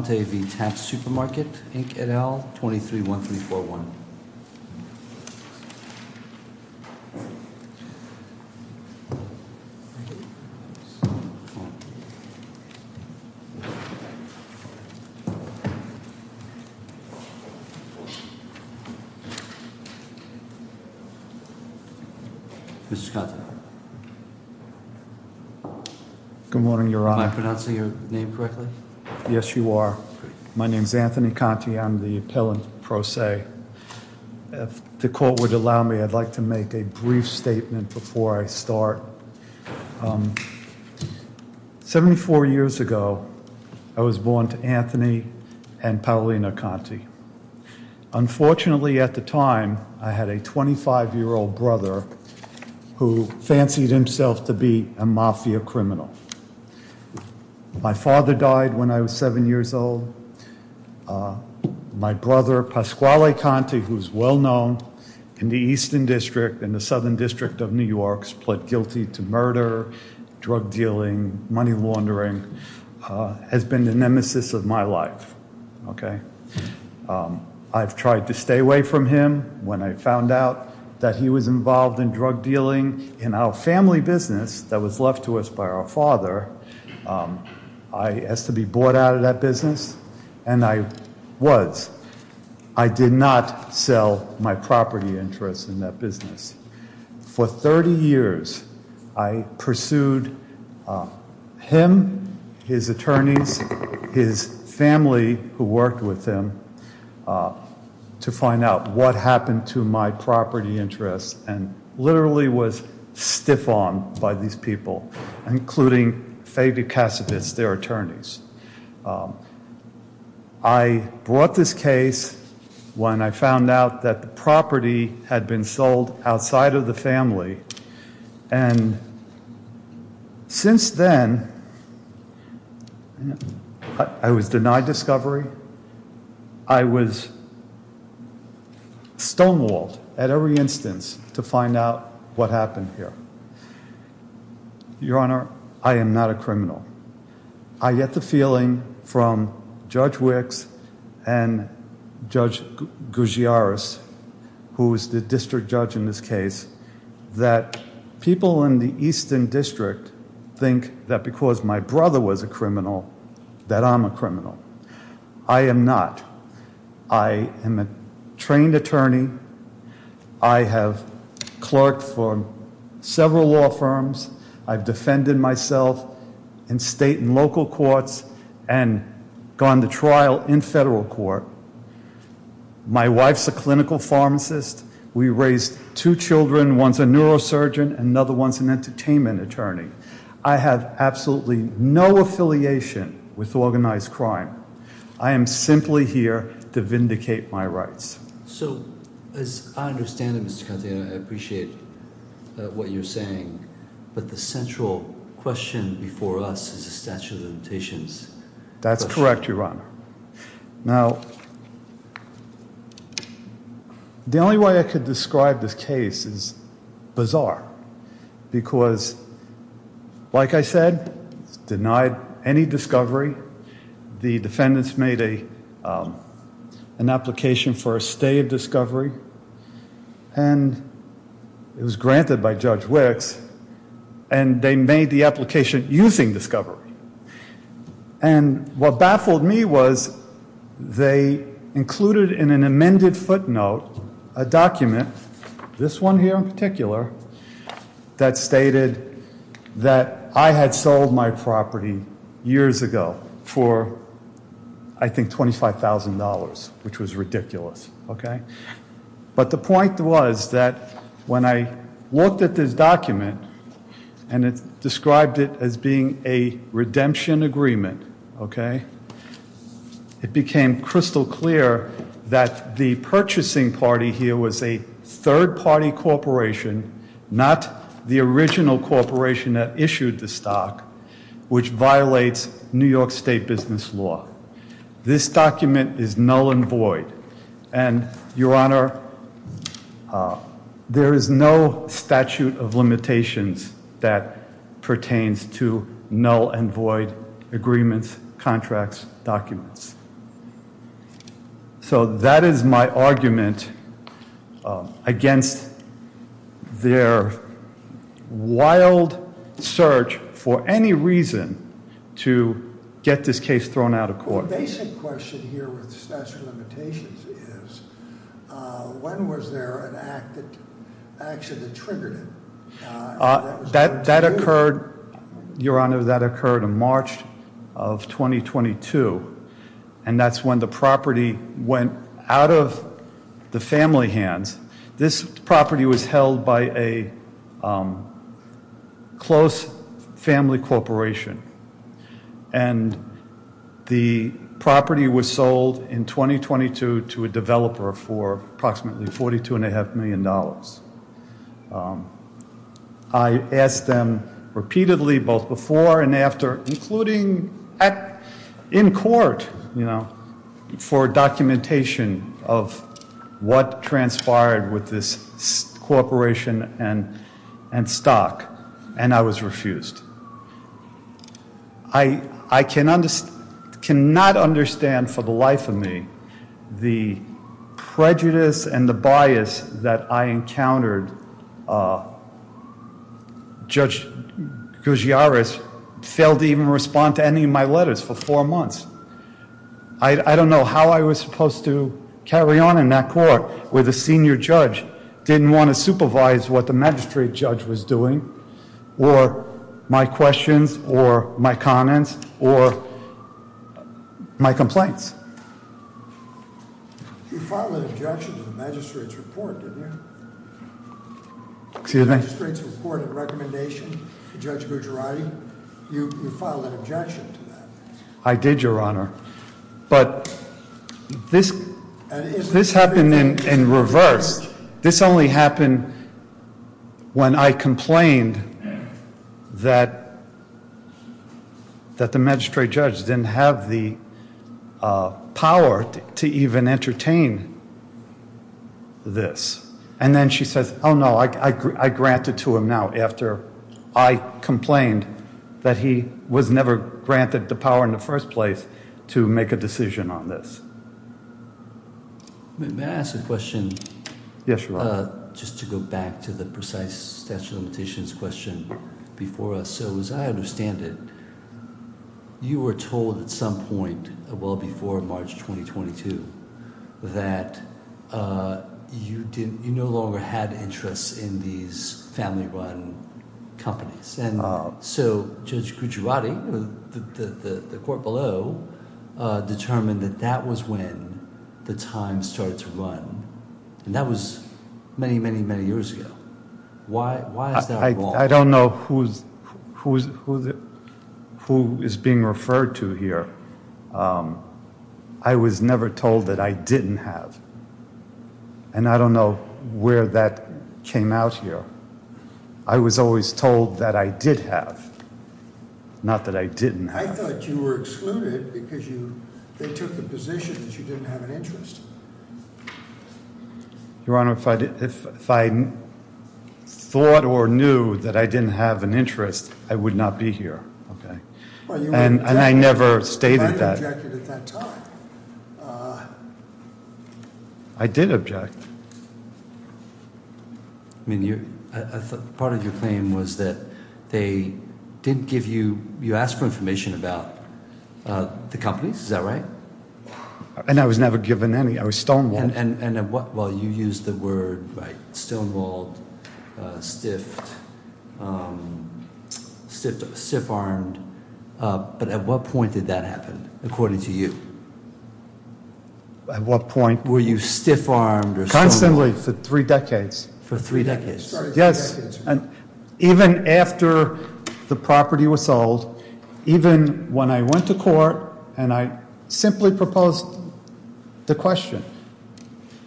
et al., 231341. Mrs. Conte. Good morning, Your Honor. Can I pronounce your name correctly? Yes, you are. My name is Anthony Conte. I'm the appellant pro se. If the court would allow me, I'd like to make a brief statement before I start. Seventy-four years ago, I was born to Anthony and Paulina Conte. Unfortunately, at the time, I had a 25-year-old brother who fancied himself to be a mafia criminal. My father died when I was seven years old. My brother, Pasquale Conte, who's well-known in the Eastern District and the Southern District of New York, pled guilty to murder, drug dealing, money laundering, has been the nemesis of my life. I've tried to stay away from him. When I found out that he was involved in drug dealing in our family business that was left to us by our father, I asked to be bought out of that business, and I was. I did not sell my property interests in that business. For 30 years, I pursued him, his attorneys, his family who worked with him to find out what happened to my property interests and literally was stiff-armed by these people, including Faber-Cassavitz, their attorneys. I brought this case when I found out that the property had been sold outside of the family. And since then, I was denied discovery. I was stonewalled at every instance to find out what happened here. Your Honor, I am not a criminal. I get the feeling from Judge Wicks and Judge Gougiaris, who is the district judge in this case, that people in the Eastern District think that because my brother was a criminal, that I'm a criminal. I am not. I am a trained attorney. I have clerked for several law firms. I've defended myself in state and local courts and gone to trial in federal court. My wife's a clinical pharmacist. We raised two children. One's a neurosurgeon. Another one's an entertainment attorney. I have absolutely no affiliation with organized crime. I am simply here to vindicate my rights. So, as I understand it, Mr. Conte, and I appreciate what you're saying, but the central question before us is the statute of limitations. That's correct, Your Honor. Now, the only way I could describe this case is bizarre. Because, like I said, denied any discovery. The defendants made an application for a stay of discovery, and it was granted by Judge Wicks, and they made the application using discovery. And what baffled me was they included in an amended footnote a document, this one here in particular, that stated that I had sold my property years ago for, I think, $25,000, which was ridiculous. Okay? But the point was that when I looked at this document and described it as being a redemption agreement, okay, it became crystal clear that the purchasing party here was a third-party corporation, not the original corporation that issued the stock, which violates New York State business law. This document is null and void. And, Your Honor, there is no statute of limitations that pertains to null and void agreements, contracts, documents. So that is my argument against their wild search for any reason to get this case thrown out of court. The basic question here with statute of limitations is when was there an act that actually triggered it? That occurred, Your Honor, that occurred in March of 2022. And that's when the property went out of the family hands. This property was held by a close family corporation. And the property was sold in 2022 to a developer for approximately $42.5 million. I asked them repeatedly both before and after, including in court, you know, for documentation of what transpired with this corporation and stock, and I was refused. I cannot understand for the life of me the prejudice and the bias that I encountered. Judge Gugliares failed to even respond to any of my letters for four months. I don't know how I was supposed to carry on in that court where the senior judge didn't want to supervise what the magistrate judge was doing or my questions or my comments or my complaints. You filed an objection to the magistrate's report, didn't you? Excuse me? Magistrate's report and recommendation to Judge Gugliares. You filed an objection to that. I did, Your Honor. But this happened in reverse. This only happened when I complained that the magistrate judge didn't have the power to even entertain this. And then she says, oh, no, I grant it to him now after I complained that he was never granted the power in the first place to make a decision on this. May I ask a question? Yes, Your Honor. Just to go back to the precise statute of limitations question before us. So as I understand it, you were told at some point well before March 2022 that you didn't you no longer had interest in these family run companies. And so Judge Gugliares, the court below, determined that that was when the time started to run. And that was many, many, many years ago. Why is that wrong? I don't know who is being referred to here. I was never told that I didn't have. And I don't know where that came out here. I was always told that I did have, not that I didn't have. I thought you were excluded because they took the position that you didn't have an interest. Your Honor, if I thought or knew that I didn't have an interest, I would not be here. And I never stated that. But you objected at that time. I did object. I mean, part of your claim was that they didn't give you, you asked for information about the companies. Is that right? And I was never given any. I was stonewalled. Well, you used the word stonewalled, stiffed, stiff-armed. But at what point did that happen according to you? At what point? Were you stiff-armed or stonewalled? Constantly for three decades. For three decades? Yes. And even after the property was sold, even when I went to court and I simply proposed the question,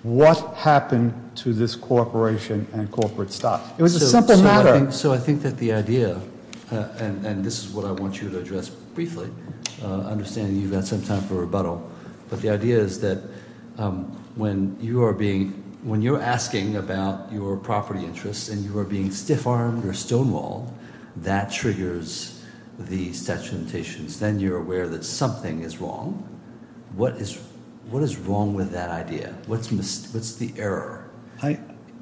what happened to this corporation and corporate stock? It was a simple matter. So I think that the idea, and this is what I want you to address briefly, understanding you've got some time for rebuttal, but the idea is that when you're asking about your property interests and you are being stiff-armed or stonewalled, that triggers the statute of limitations. Then you're aware that something is wrong. What is wrong with that idea? What's the error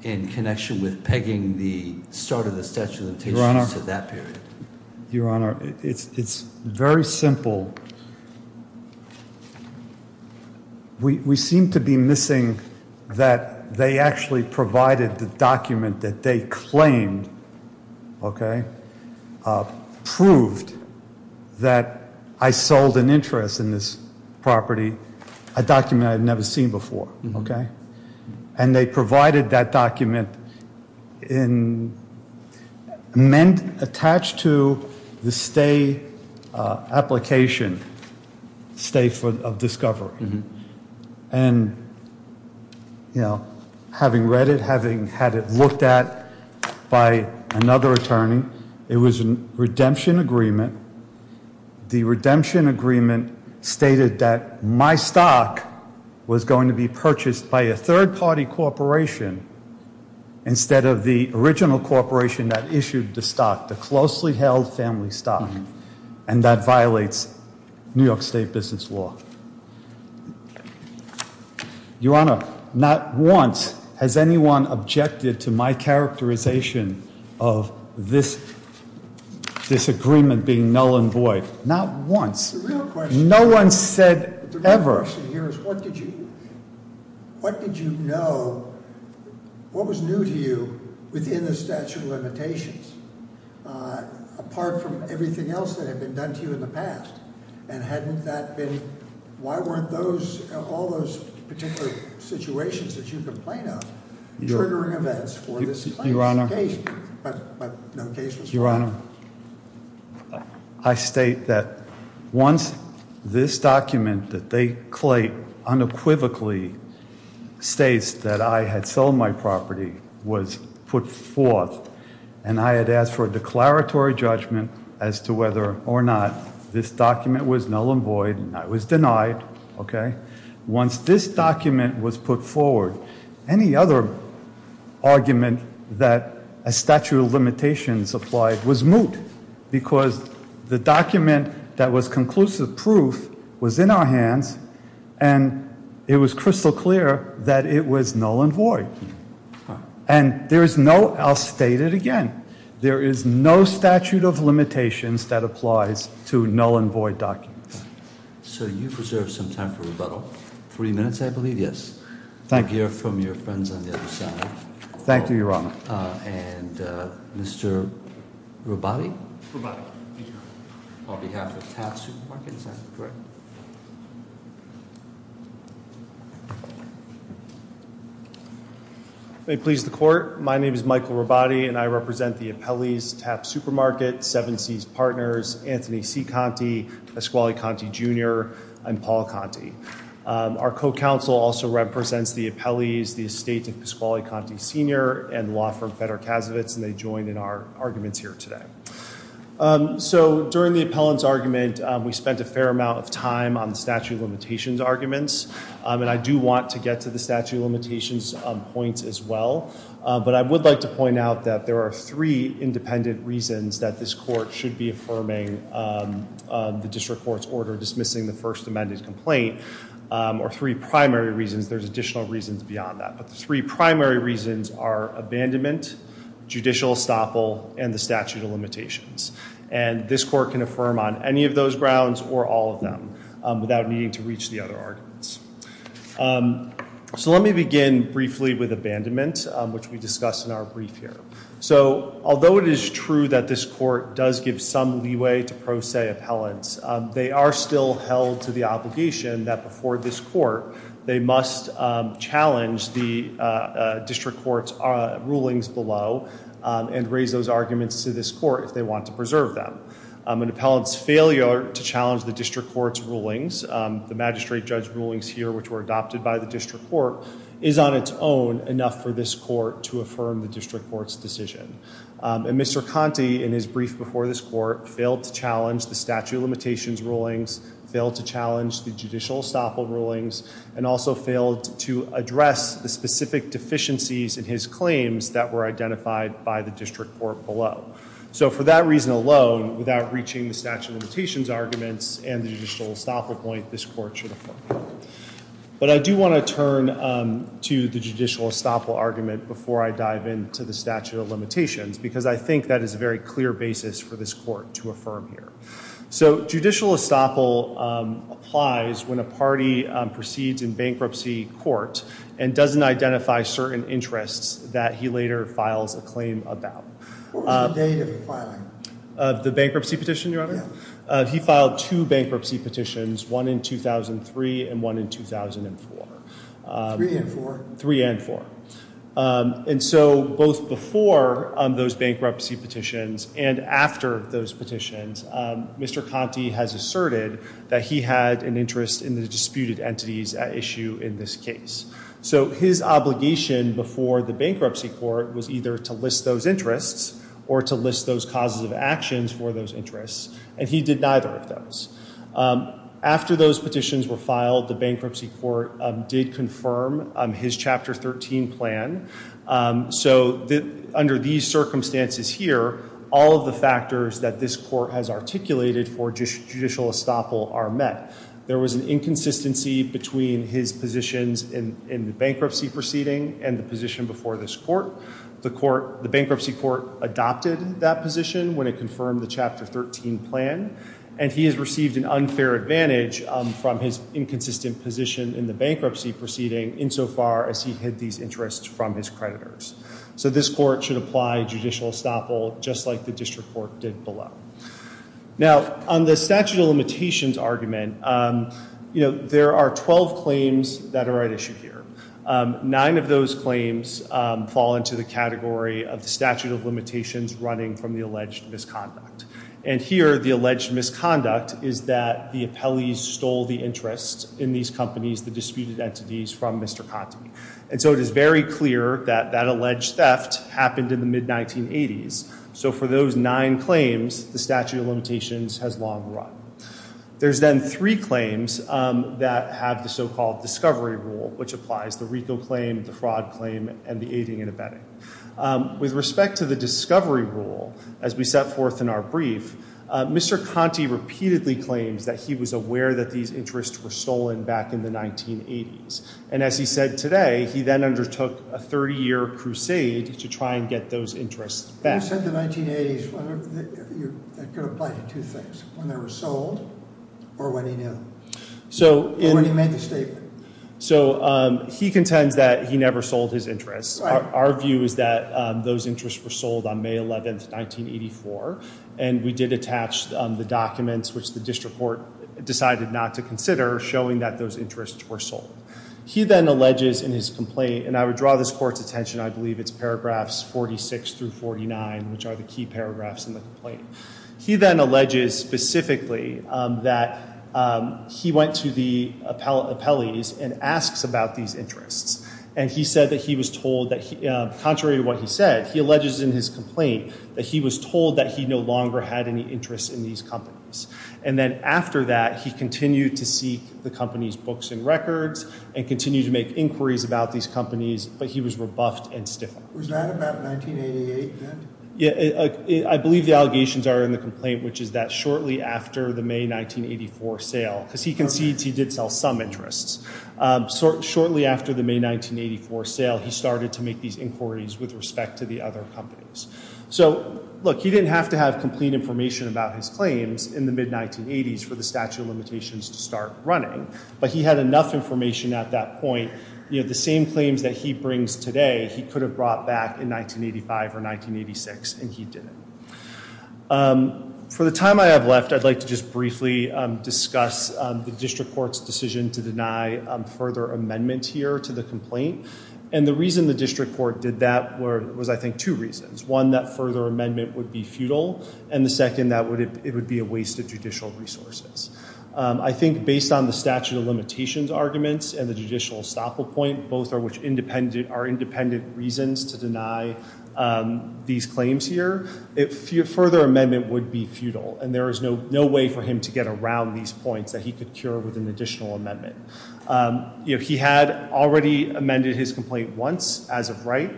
in connection with pegging the start of the statute of limitations to that period? Your Honor, it's very simple. We seem to be missing that they actually provided the document that they claimed proved that I sold an interest in this property, a document I had never seen before. And they provided that document attached to the stay application, stay of discovery. And having read it, having had it looked at by another attorney, it was a redemption agreement. The redemption agreement stated that my stock was going to be purchased by a third party corporation instead of the original corporation that issued the stock, the closely held family stock. And that violates New York State business law. Your Honor, not once has anyone objected to my characterization of this agreement being null and void. Not once. The real question here is what did you know, what was new to you within the statute of limitations, apart from everything else that had been done to you in the past? And hadn't that been, why weren't all those particular situations that you complain of triggering events for this case? Your Honor. But no case was filed. Your Honor, I state that once this document that they claim unequivocally states that I had sold my property was put forth, and I had asked for a declaratory judgment as to whether or not this document was null and void, and I was denied, okay? Once this document was put forward, any other argument that a statute of limitations applied was moot. Because the document that was conclusive proof was in our hands, and it was crystal clear that it was null and void. And there is no, I'll state it again. There is no statute of limitations that applies to null and void documents. So you've reserved some time for rebuttal. Three minutes, I believe, yes. Thank you. We'll hear from your friends on the other side. Thank you, Your Honor. And Mr. Robati? Robati, thank you, Your Honor. On behalf of Taft Supermarket, is that correct? Correct. May it please the Court, my name is Michael Robati, and I represent the appellees, Taft Supermarket, Seven Seas Partners, Anthony C. Conte, Pasquale Conte, Jr., and Paul Conte. Our co-counsel also represents the appellees, the estate of Pasquale Conte, Sr., and the law firm Federer Kasovitz, and they joined in our arguments here today. So during the appellant's argument, we spent a fair amount of time on the statute of limitations arguments. And I do want to get to the statute of limitations points as well. But I would like to point out that there are three independent reasons that this court should be affirming the district court's order dismissing the first amended complaint, or three primary reasons. There's additional reasons beyond that. But the three primary reasons are abandonment, judicial estoppel, and the statute of limitations. And this court can affirm on any of those grounds or all of them without needing to reach the other arguments. So let me begin briefly with abandonment, which we discussed in our brief here. So although it is true that this court does give some leeway to pro se appellants, they are still held to the obligation that before this court, they must challenge the district court's rulings below and raise those arguments to this court if they want to preserve them. An appellant's failure to challenge the district court's rulings, the magistrate judge rulings here which were adopted by the district court, is on its own enough for this court to affirm the district court's decision. And Mr. Conte, in his brief before this court, failed to challenge the statute of limitations rulings, failed to challenge the judicial estoppel rulings, and also failed to address the specific deficiencies in his claims that were identified by the district court below. So for that reason alone, without reaching the statute of limitations arguments and the judicial estoppel point, this court should affirm. But I do want to turn to the judicial estoppel argument before I dive into the statute of limitations because I think that is a very clear basis for this court to affirm here. So judicial estoppel applies when a party proceeds in bankruptcy court and doesn't identify certain interests that he later files a claim about. What was the date of the filing? Of the bankruptcy petition, Your Honor? Yeah. He filed two bankruptcy petitions, one in 2003 and one in 2004. Three and four? Three and four. And so both before those bankruptcy petitions and after those petitions, Mr. Conte has asserted that he had an interest in the disputed entities at issue in this case. So his obligation before the bankruptcy court was either to list those interests or to list those causes of actions for those interests. And he did neither of those. After those petitions were filed, the bankruptcy court did confirm his Chapter 13 plan. So under these circumstances here, all of the factors that this court has articulated for judicial estoppel are met. There was an inconsistency between his positions in the bankruptcy proceeding and the position before this court. The bankruptcy court adopted that position when it confirmed the Chapter 13 plan. And he has received an unfair advantage from his inconsistent position in the bankruptcy proceeding insofar as he hid these interests from his creditors. So this court should apply judicial estoppel just like the district court did below. Now, on the statute of limitations argument, you know, there are 12 claims that are at issue here. Nine of those claims fall into the category of the statute of limitations running from the alleged misconduct. And here the alleged misconduct is that the appellees stole the interests in these companies, the disputed entities, from Mr. Conte. And so it is very clear that that alleged theft happened in the mid-1980s. So for those nine claims, the statute of limitations has long run. There's then three claims that have the so-called discovery rule, which applies the RICO claim, the fraud claim, and the aiding and abetting. With respect to the discovery rule, as we set forth in our brief, Mr. Conte repeatedly claims that he was aware that these interests were stolen back in the 1980s. And as he said today, he then undertook a 30-year crusade to try and get those interests back. When you said the 1980s, that could apply to two things. When they were sold or when he knew. Or when he made the statement. So he contends that he never sold his interests. Our view is that those interests were sold on May 11, 1984. And we did attach the documents, which the district court decided not to consider, showing that those interests were sold. He then alleges in his complaint, and I would draw this court's attention, I believe it's paragraphs 46 through 49, which are the key paragraphs in the complaint. He then alleges specifically that he went to the appellees and asks about these interests. And he said that he was told that, contrary to what he said, he alleges in his complaint that he was told that he no longer had any interest in these companies. And then after that, he continued to seek the company's books and records and continued to make inquiries about these companies. But he was rebuffed and stiffened. Was that about 1988 then? I believe the allegations are in the complaint, which is that shortly after the May 1984 sale, because he concedes he did sell some interests. Shortly after the May 1984 sale, he started to make these inquiries with respect to the other companies. So look, he didn't have to have complete information about his claims in the mid-1980s for the statute of limitations to start running. But he had enough information at that point. The same claims that he brings today, he could have brought back in 1985 or 1986, and he didn't. For the time I have left, I'd like to just briefly discuss the district court's decision to deny further amendments here to the complaint. And the reason the district court did that was, I think, two reasons. One, that further amendment would be futile. And the second, that it would be a waste of judicial resources. I think based on the statute of limitations arguments and the judicial estoppel point, both are independent reasons to deny these claims here. Further amendment would be futile. And there is no way for him to get around these points that he could cure with an additional amendment. He had already amended his complaint once, as of right.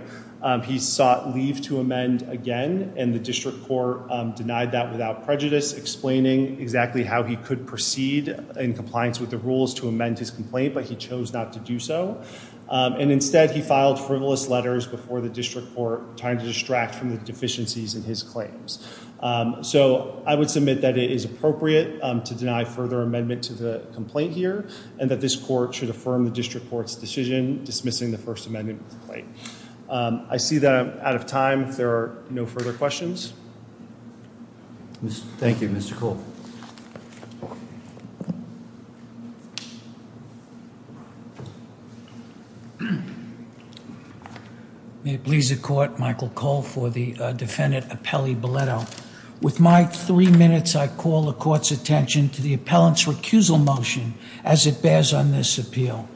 He sought leave to amend again, and the district court denied that without prejudice, explaining exactly how he could proceed in compliance with the rules to amend his complaint, but he chose not to do so. And instead, he filed frivolous letters before the district court, trying to distract from the deficiencies in his claims. So I would submit that it is appropriate to deny further amendment to the complaint here, and that this court should affirm the district court's decision dismissing the first amendment of the claim. I see that I'm out of time, if there are no further questions. Thank you, Mr. Cole. May it please the court, Michael Cole for the defendant, Apelli Biletto. With my three minutes, I call the court's attention to the appellant's recusal motion as it bears on this appeal.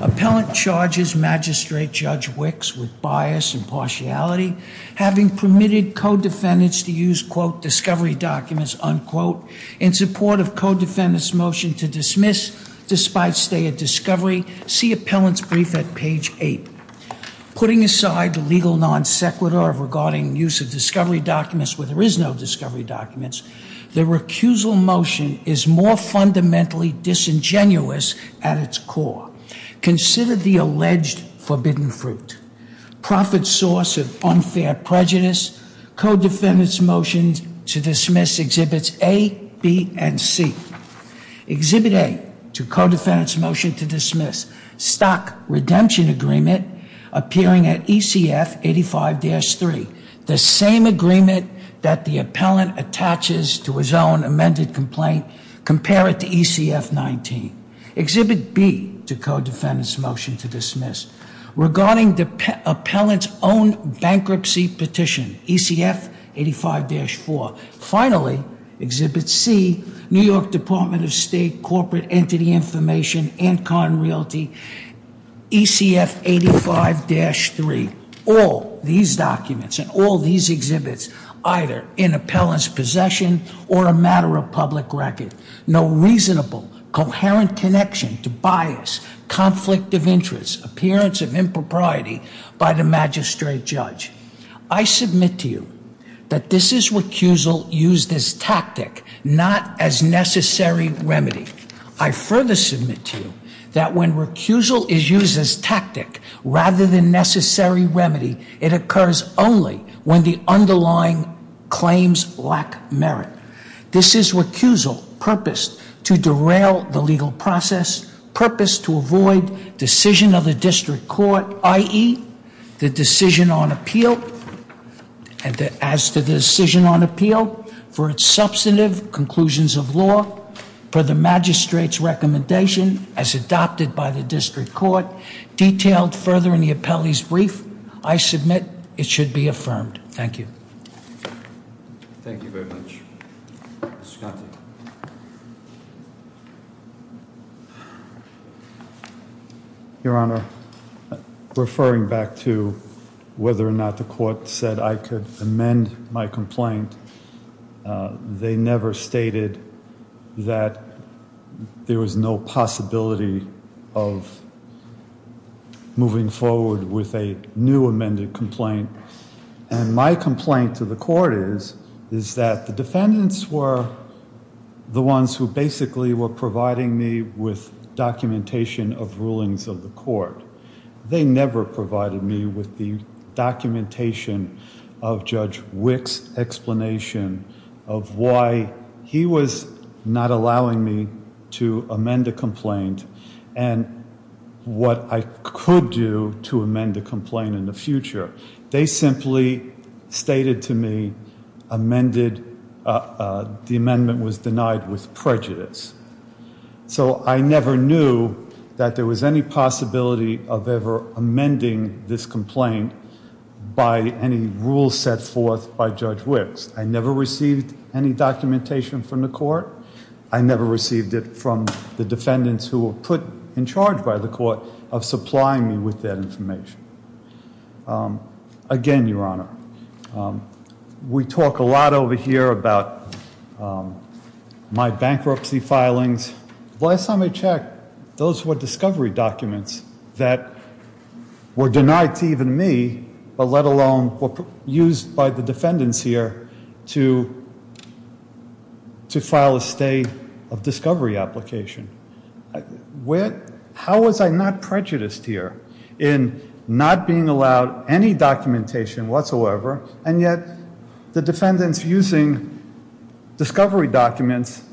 Appellant charges Magistrate Judge Wicks with bias and partiality, having permitted co-defendants to use, quote, discovery documents, unquote, in support of co-defendant's motion to dismiss despite stay at discovery. See appellant's brief at page eight. Putting aside the legal non sequitur regarding use of discovery documents where there is no discovery documents, the recusal motion is more fundamentally disingenuous at its core. Consider the alleged forbidden fruit. Profit source of unfair prejudice. Co-defendant's motion to dismiss exhibits A, B, and C. Exhibit A to co-defendant's motion to dismiss. Stock redemption agreement appearing at ECF 85-3. The same agreement that the appellant attaches to his own amended complaint. Compare it to ECF 19. Exhibit B to co-defendant's motion to dismiss. Regarding the appellant's own bankruptcy petition, ECF 85-4. Finally, exhibit C, New York Department of State Corporate Entity Information and Con Realty, ECF 85-3. All these documents and all these exhibits either in appellant's possession or a matter of public record. No reasonable, coherent connection to bias, conflict of interest, appearance of impropriety by the magistrate judge. I submit to you that this is recusal used as tactic, not as necessary remedy. I further submit to you that when recusal is used as tactic rather than necessary remedy, it occurs only when the underlying claims lack merit. This is recusal purposed to derail the legal process, purposed to avoid decision of the district court, i.e., the decision on appeal. And as to the decision on appeal, for its substantive conclusions of law, for the magistrate's recommendation as adopted by the district court, detailed further in the appellee's brief, I submit it should be affirmed. Thank you. Thank you very much. Mr. Conte. Your Honor, referring back to whether or not the court said I could amend my complaint, they never stated that there was no possibility of moving forward with a new amended complaint. And my complaint to the court is that the defendants were the ones who basically were providing me with documentation of rulings of the court. They never provided me with the documentation of Judge Wick's explanation of why he was not allowing me to amend a complaint and what I could do to amend a complaint in the future. They simply stated to me the amendment was denied with prejudice. So I never knew that there was any possibility of ever amending this complaint by any rules set forth by Judge Wick's. I never received any documentation from the court. I never received it from the defendants who were put in charge by the court of supplying me with that information. Again, Your Honor, we talk a lot over here about my bankruptcy filings. Last time I checked, those were discovery documents that were denied to even me, but let alone were used by the defendants here to file a state of discovery application. How was I not prejudiced here in not being allowed any documentation whatsoever, and yet the defendants using discovery documents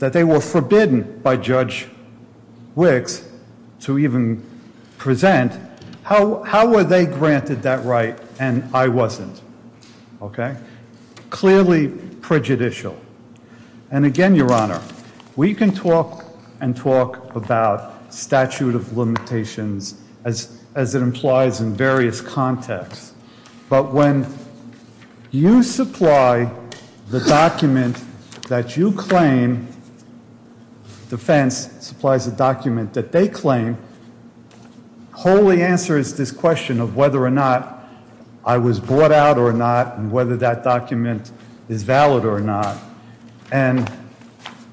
that they were forbidden by Judge Wick's to even present, how were they granted that right and I wasn't? Clearly prejudicial. And again, Your Honor, we can talk and talk about statute of limitations as it implies in various contexts, but when you supply the document that you claim, defense supplies a document that they claim wholly answers this question of whether or not I was brought out or not and whether that document is valid or not. And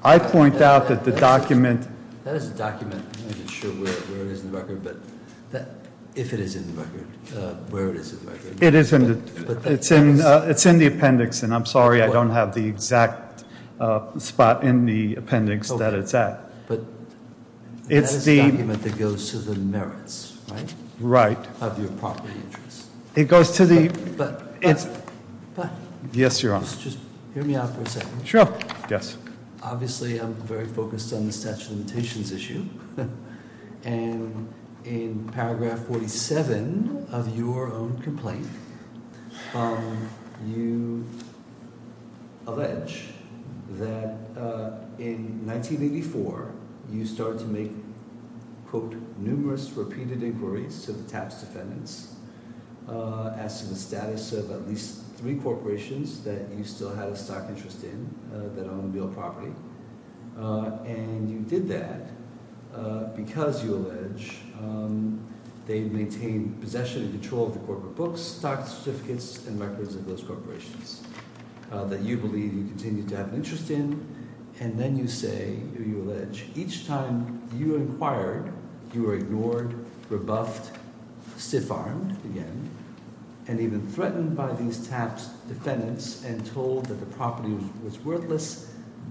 I point out that the document- That is a document. I'm not sure where it is in the record, but if it is in the record, where it is in the record. It's in the appendix, and I'm sorry I don't have the exact spot in the appendix that it's at. But that is the document that goes to the merits, right? Right. Of your property interests. It goes to the- Yes, Your Honor. Just hear me out for a second. Sure. Yes. Obviously, I'm very focused on the statute of limitations issue. And in paragraph 47 of your own complaint, you allege that in 1984, you started to make, quote, to the tax defendants as to the status of at least three corporations that you still had a stock interest in that owned real property. And you did that because you allege they maintained possession and control of the corporate books, stock certificates, and records of those corporations that you believe you continue to have an interest in. And then you say, or you allege, each time you inquired, you were ignored, rebuffed, stiff-armed, again, and even threatened by these tax defendants and told that the property was worthless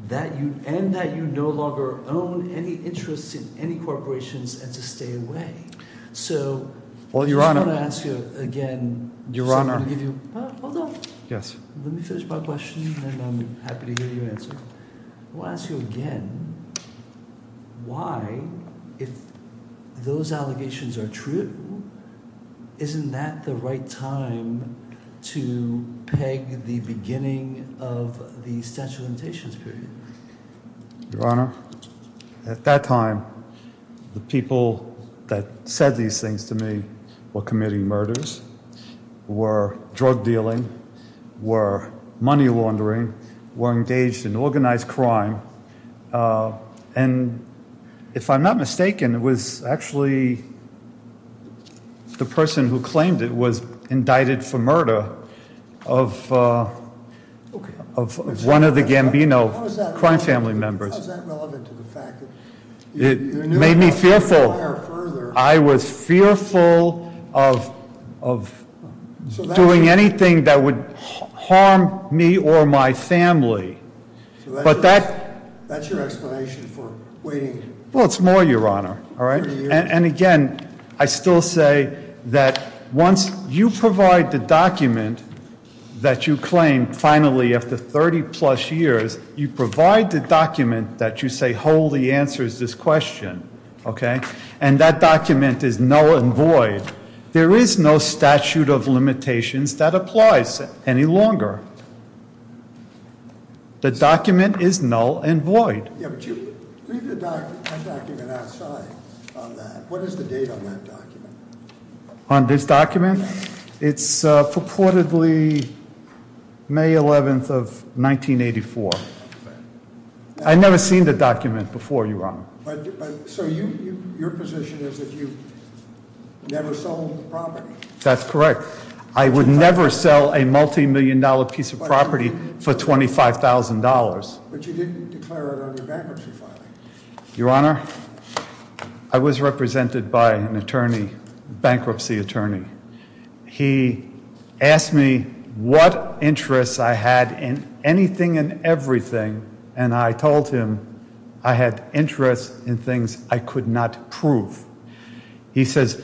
and that you no longer own any interest in any corporations and to stay away. So- Well, Your Honor- I just want to ask you again- Your Honor- Hold on. Yes. Let me finish my question, and I'm happy to hear your answer. I want to ask you again, why, if those allegations are true, isn't that the right time to peg the beginning of the statute of limitations period? Your Honor, at that time, the people that said these things to me were committing murders, were drug dealing, were money laundering, were engaged in organized crime. And if I'm not mistaken, it was actually the person who claimed it was indicted for murder of one of the Gambino crime family members. How is that relevant to the fact that- It made me fearful. I was fearful of doing anything that would harm me or my family. But that- That's your explanation for waiting- Well, it's more, Your Honor. All right? And again, I still say that once you provide the document that you claim, finally, after 30 plus years, you provide the document that you say wholly answers this question. Okay? And that document is null and void. There is no statute of limitations that applies any longer. The document is null and void. Yeah, but you leave the document outside on that. What is the date on that document? On this document? It's purportedly May 11th of 1984. Okay. I never seen the document before, Your Honor. So your position is that you never sold the property? That's correct. I would never sell a multi-million dollar piece of property for $25,000. But you didn't declare it on your bankruptcy filing. Your Honor, I was represented by an attorney, bankruptcy attorney. He asked me what interests I had in anything and everything, and I told him I had interests in things I could not prove. He says,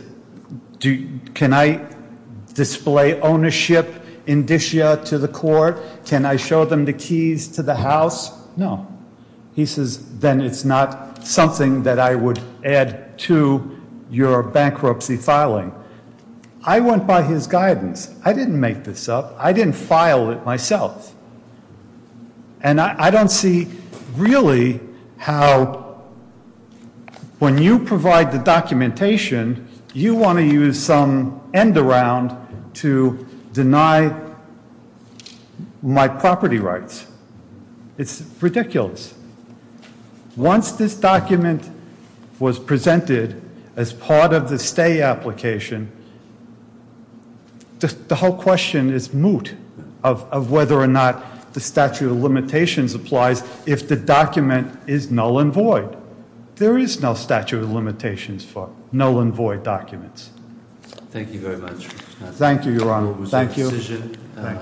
can I display ownership indicia to the court? Can I show them the keys to the house? No. He says, then it's not something that I would add to your bankruptcy filing. I went by his guidance. I didn't make this up. I didn't file it myself. And I don't see really how when you provide the documentation, you want to use some end around to deny my property rights. It's ridiculous. Once this document was presented as part of the stay application, the whole question is moot of whether or not the statute of limitations applies if the document is null and void. There is no statute of limitations for null and void documents. Thank you very much. Thank you, Your Honor. Thank you.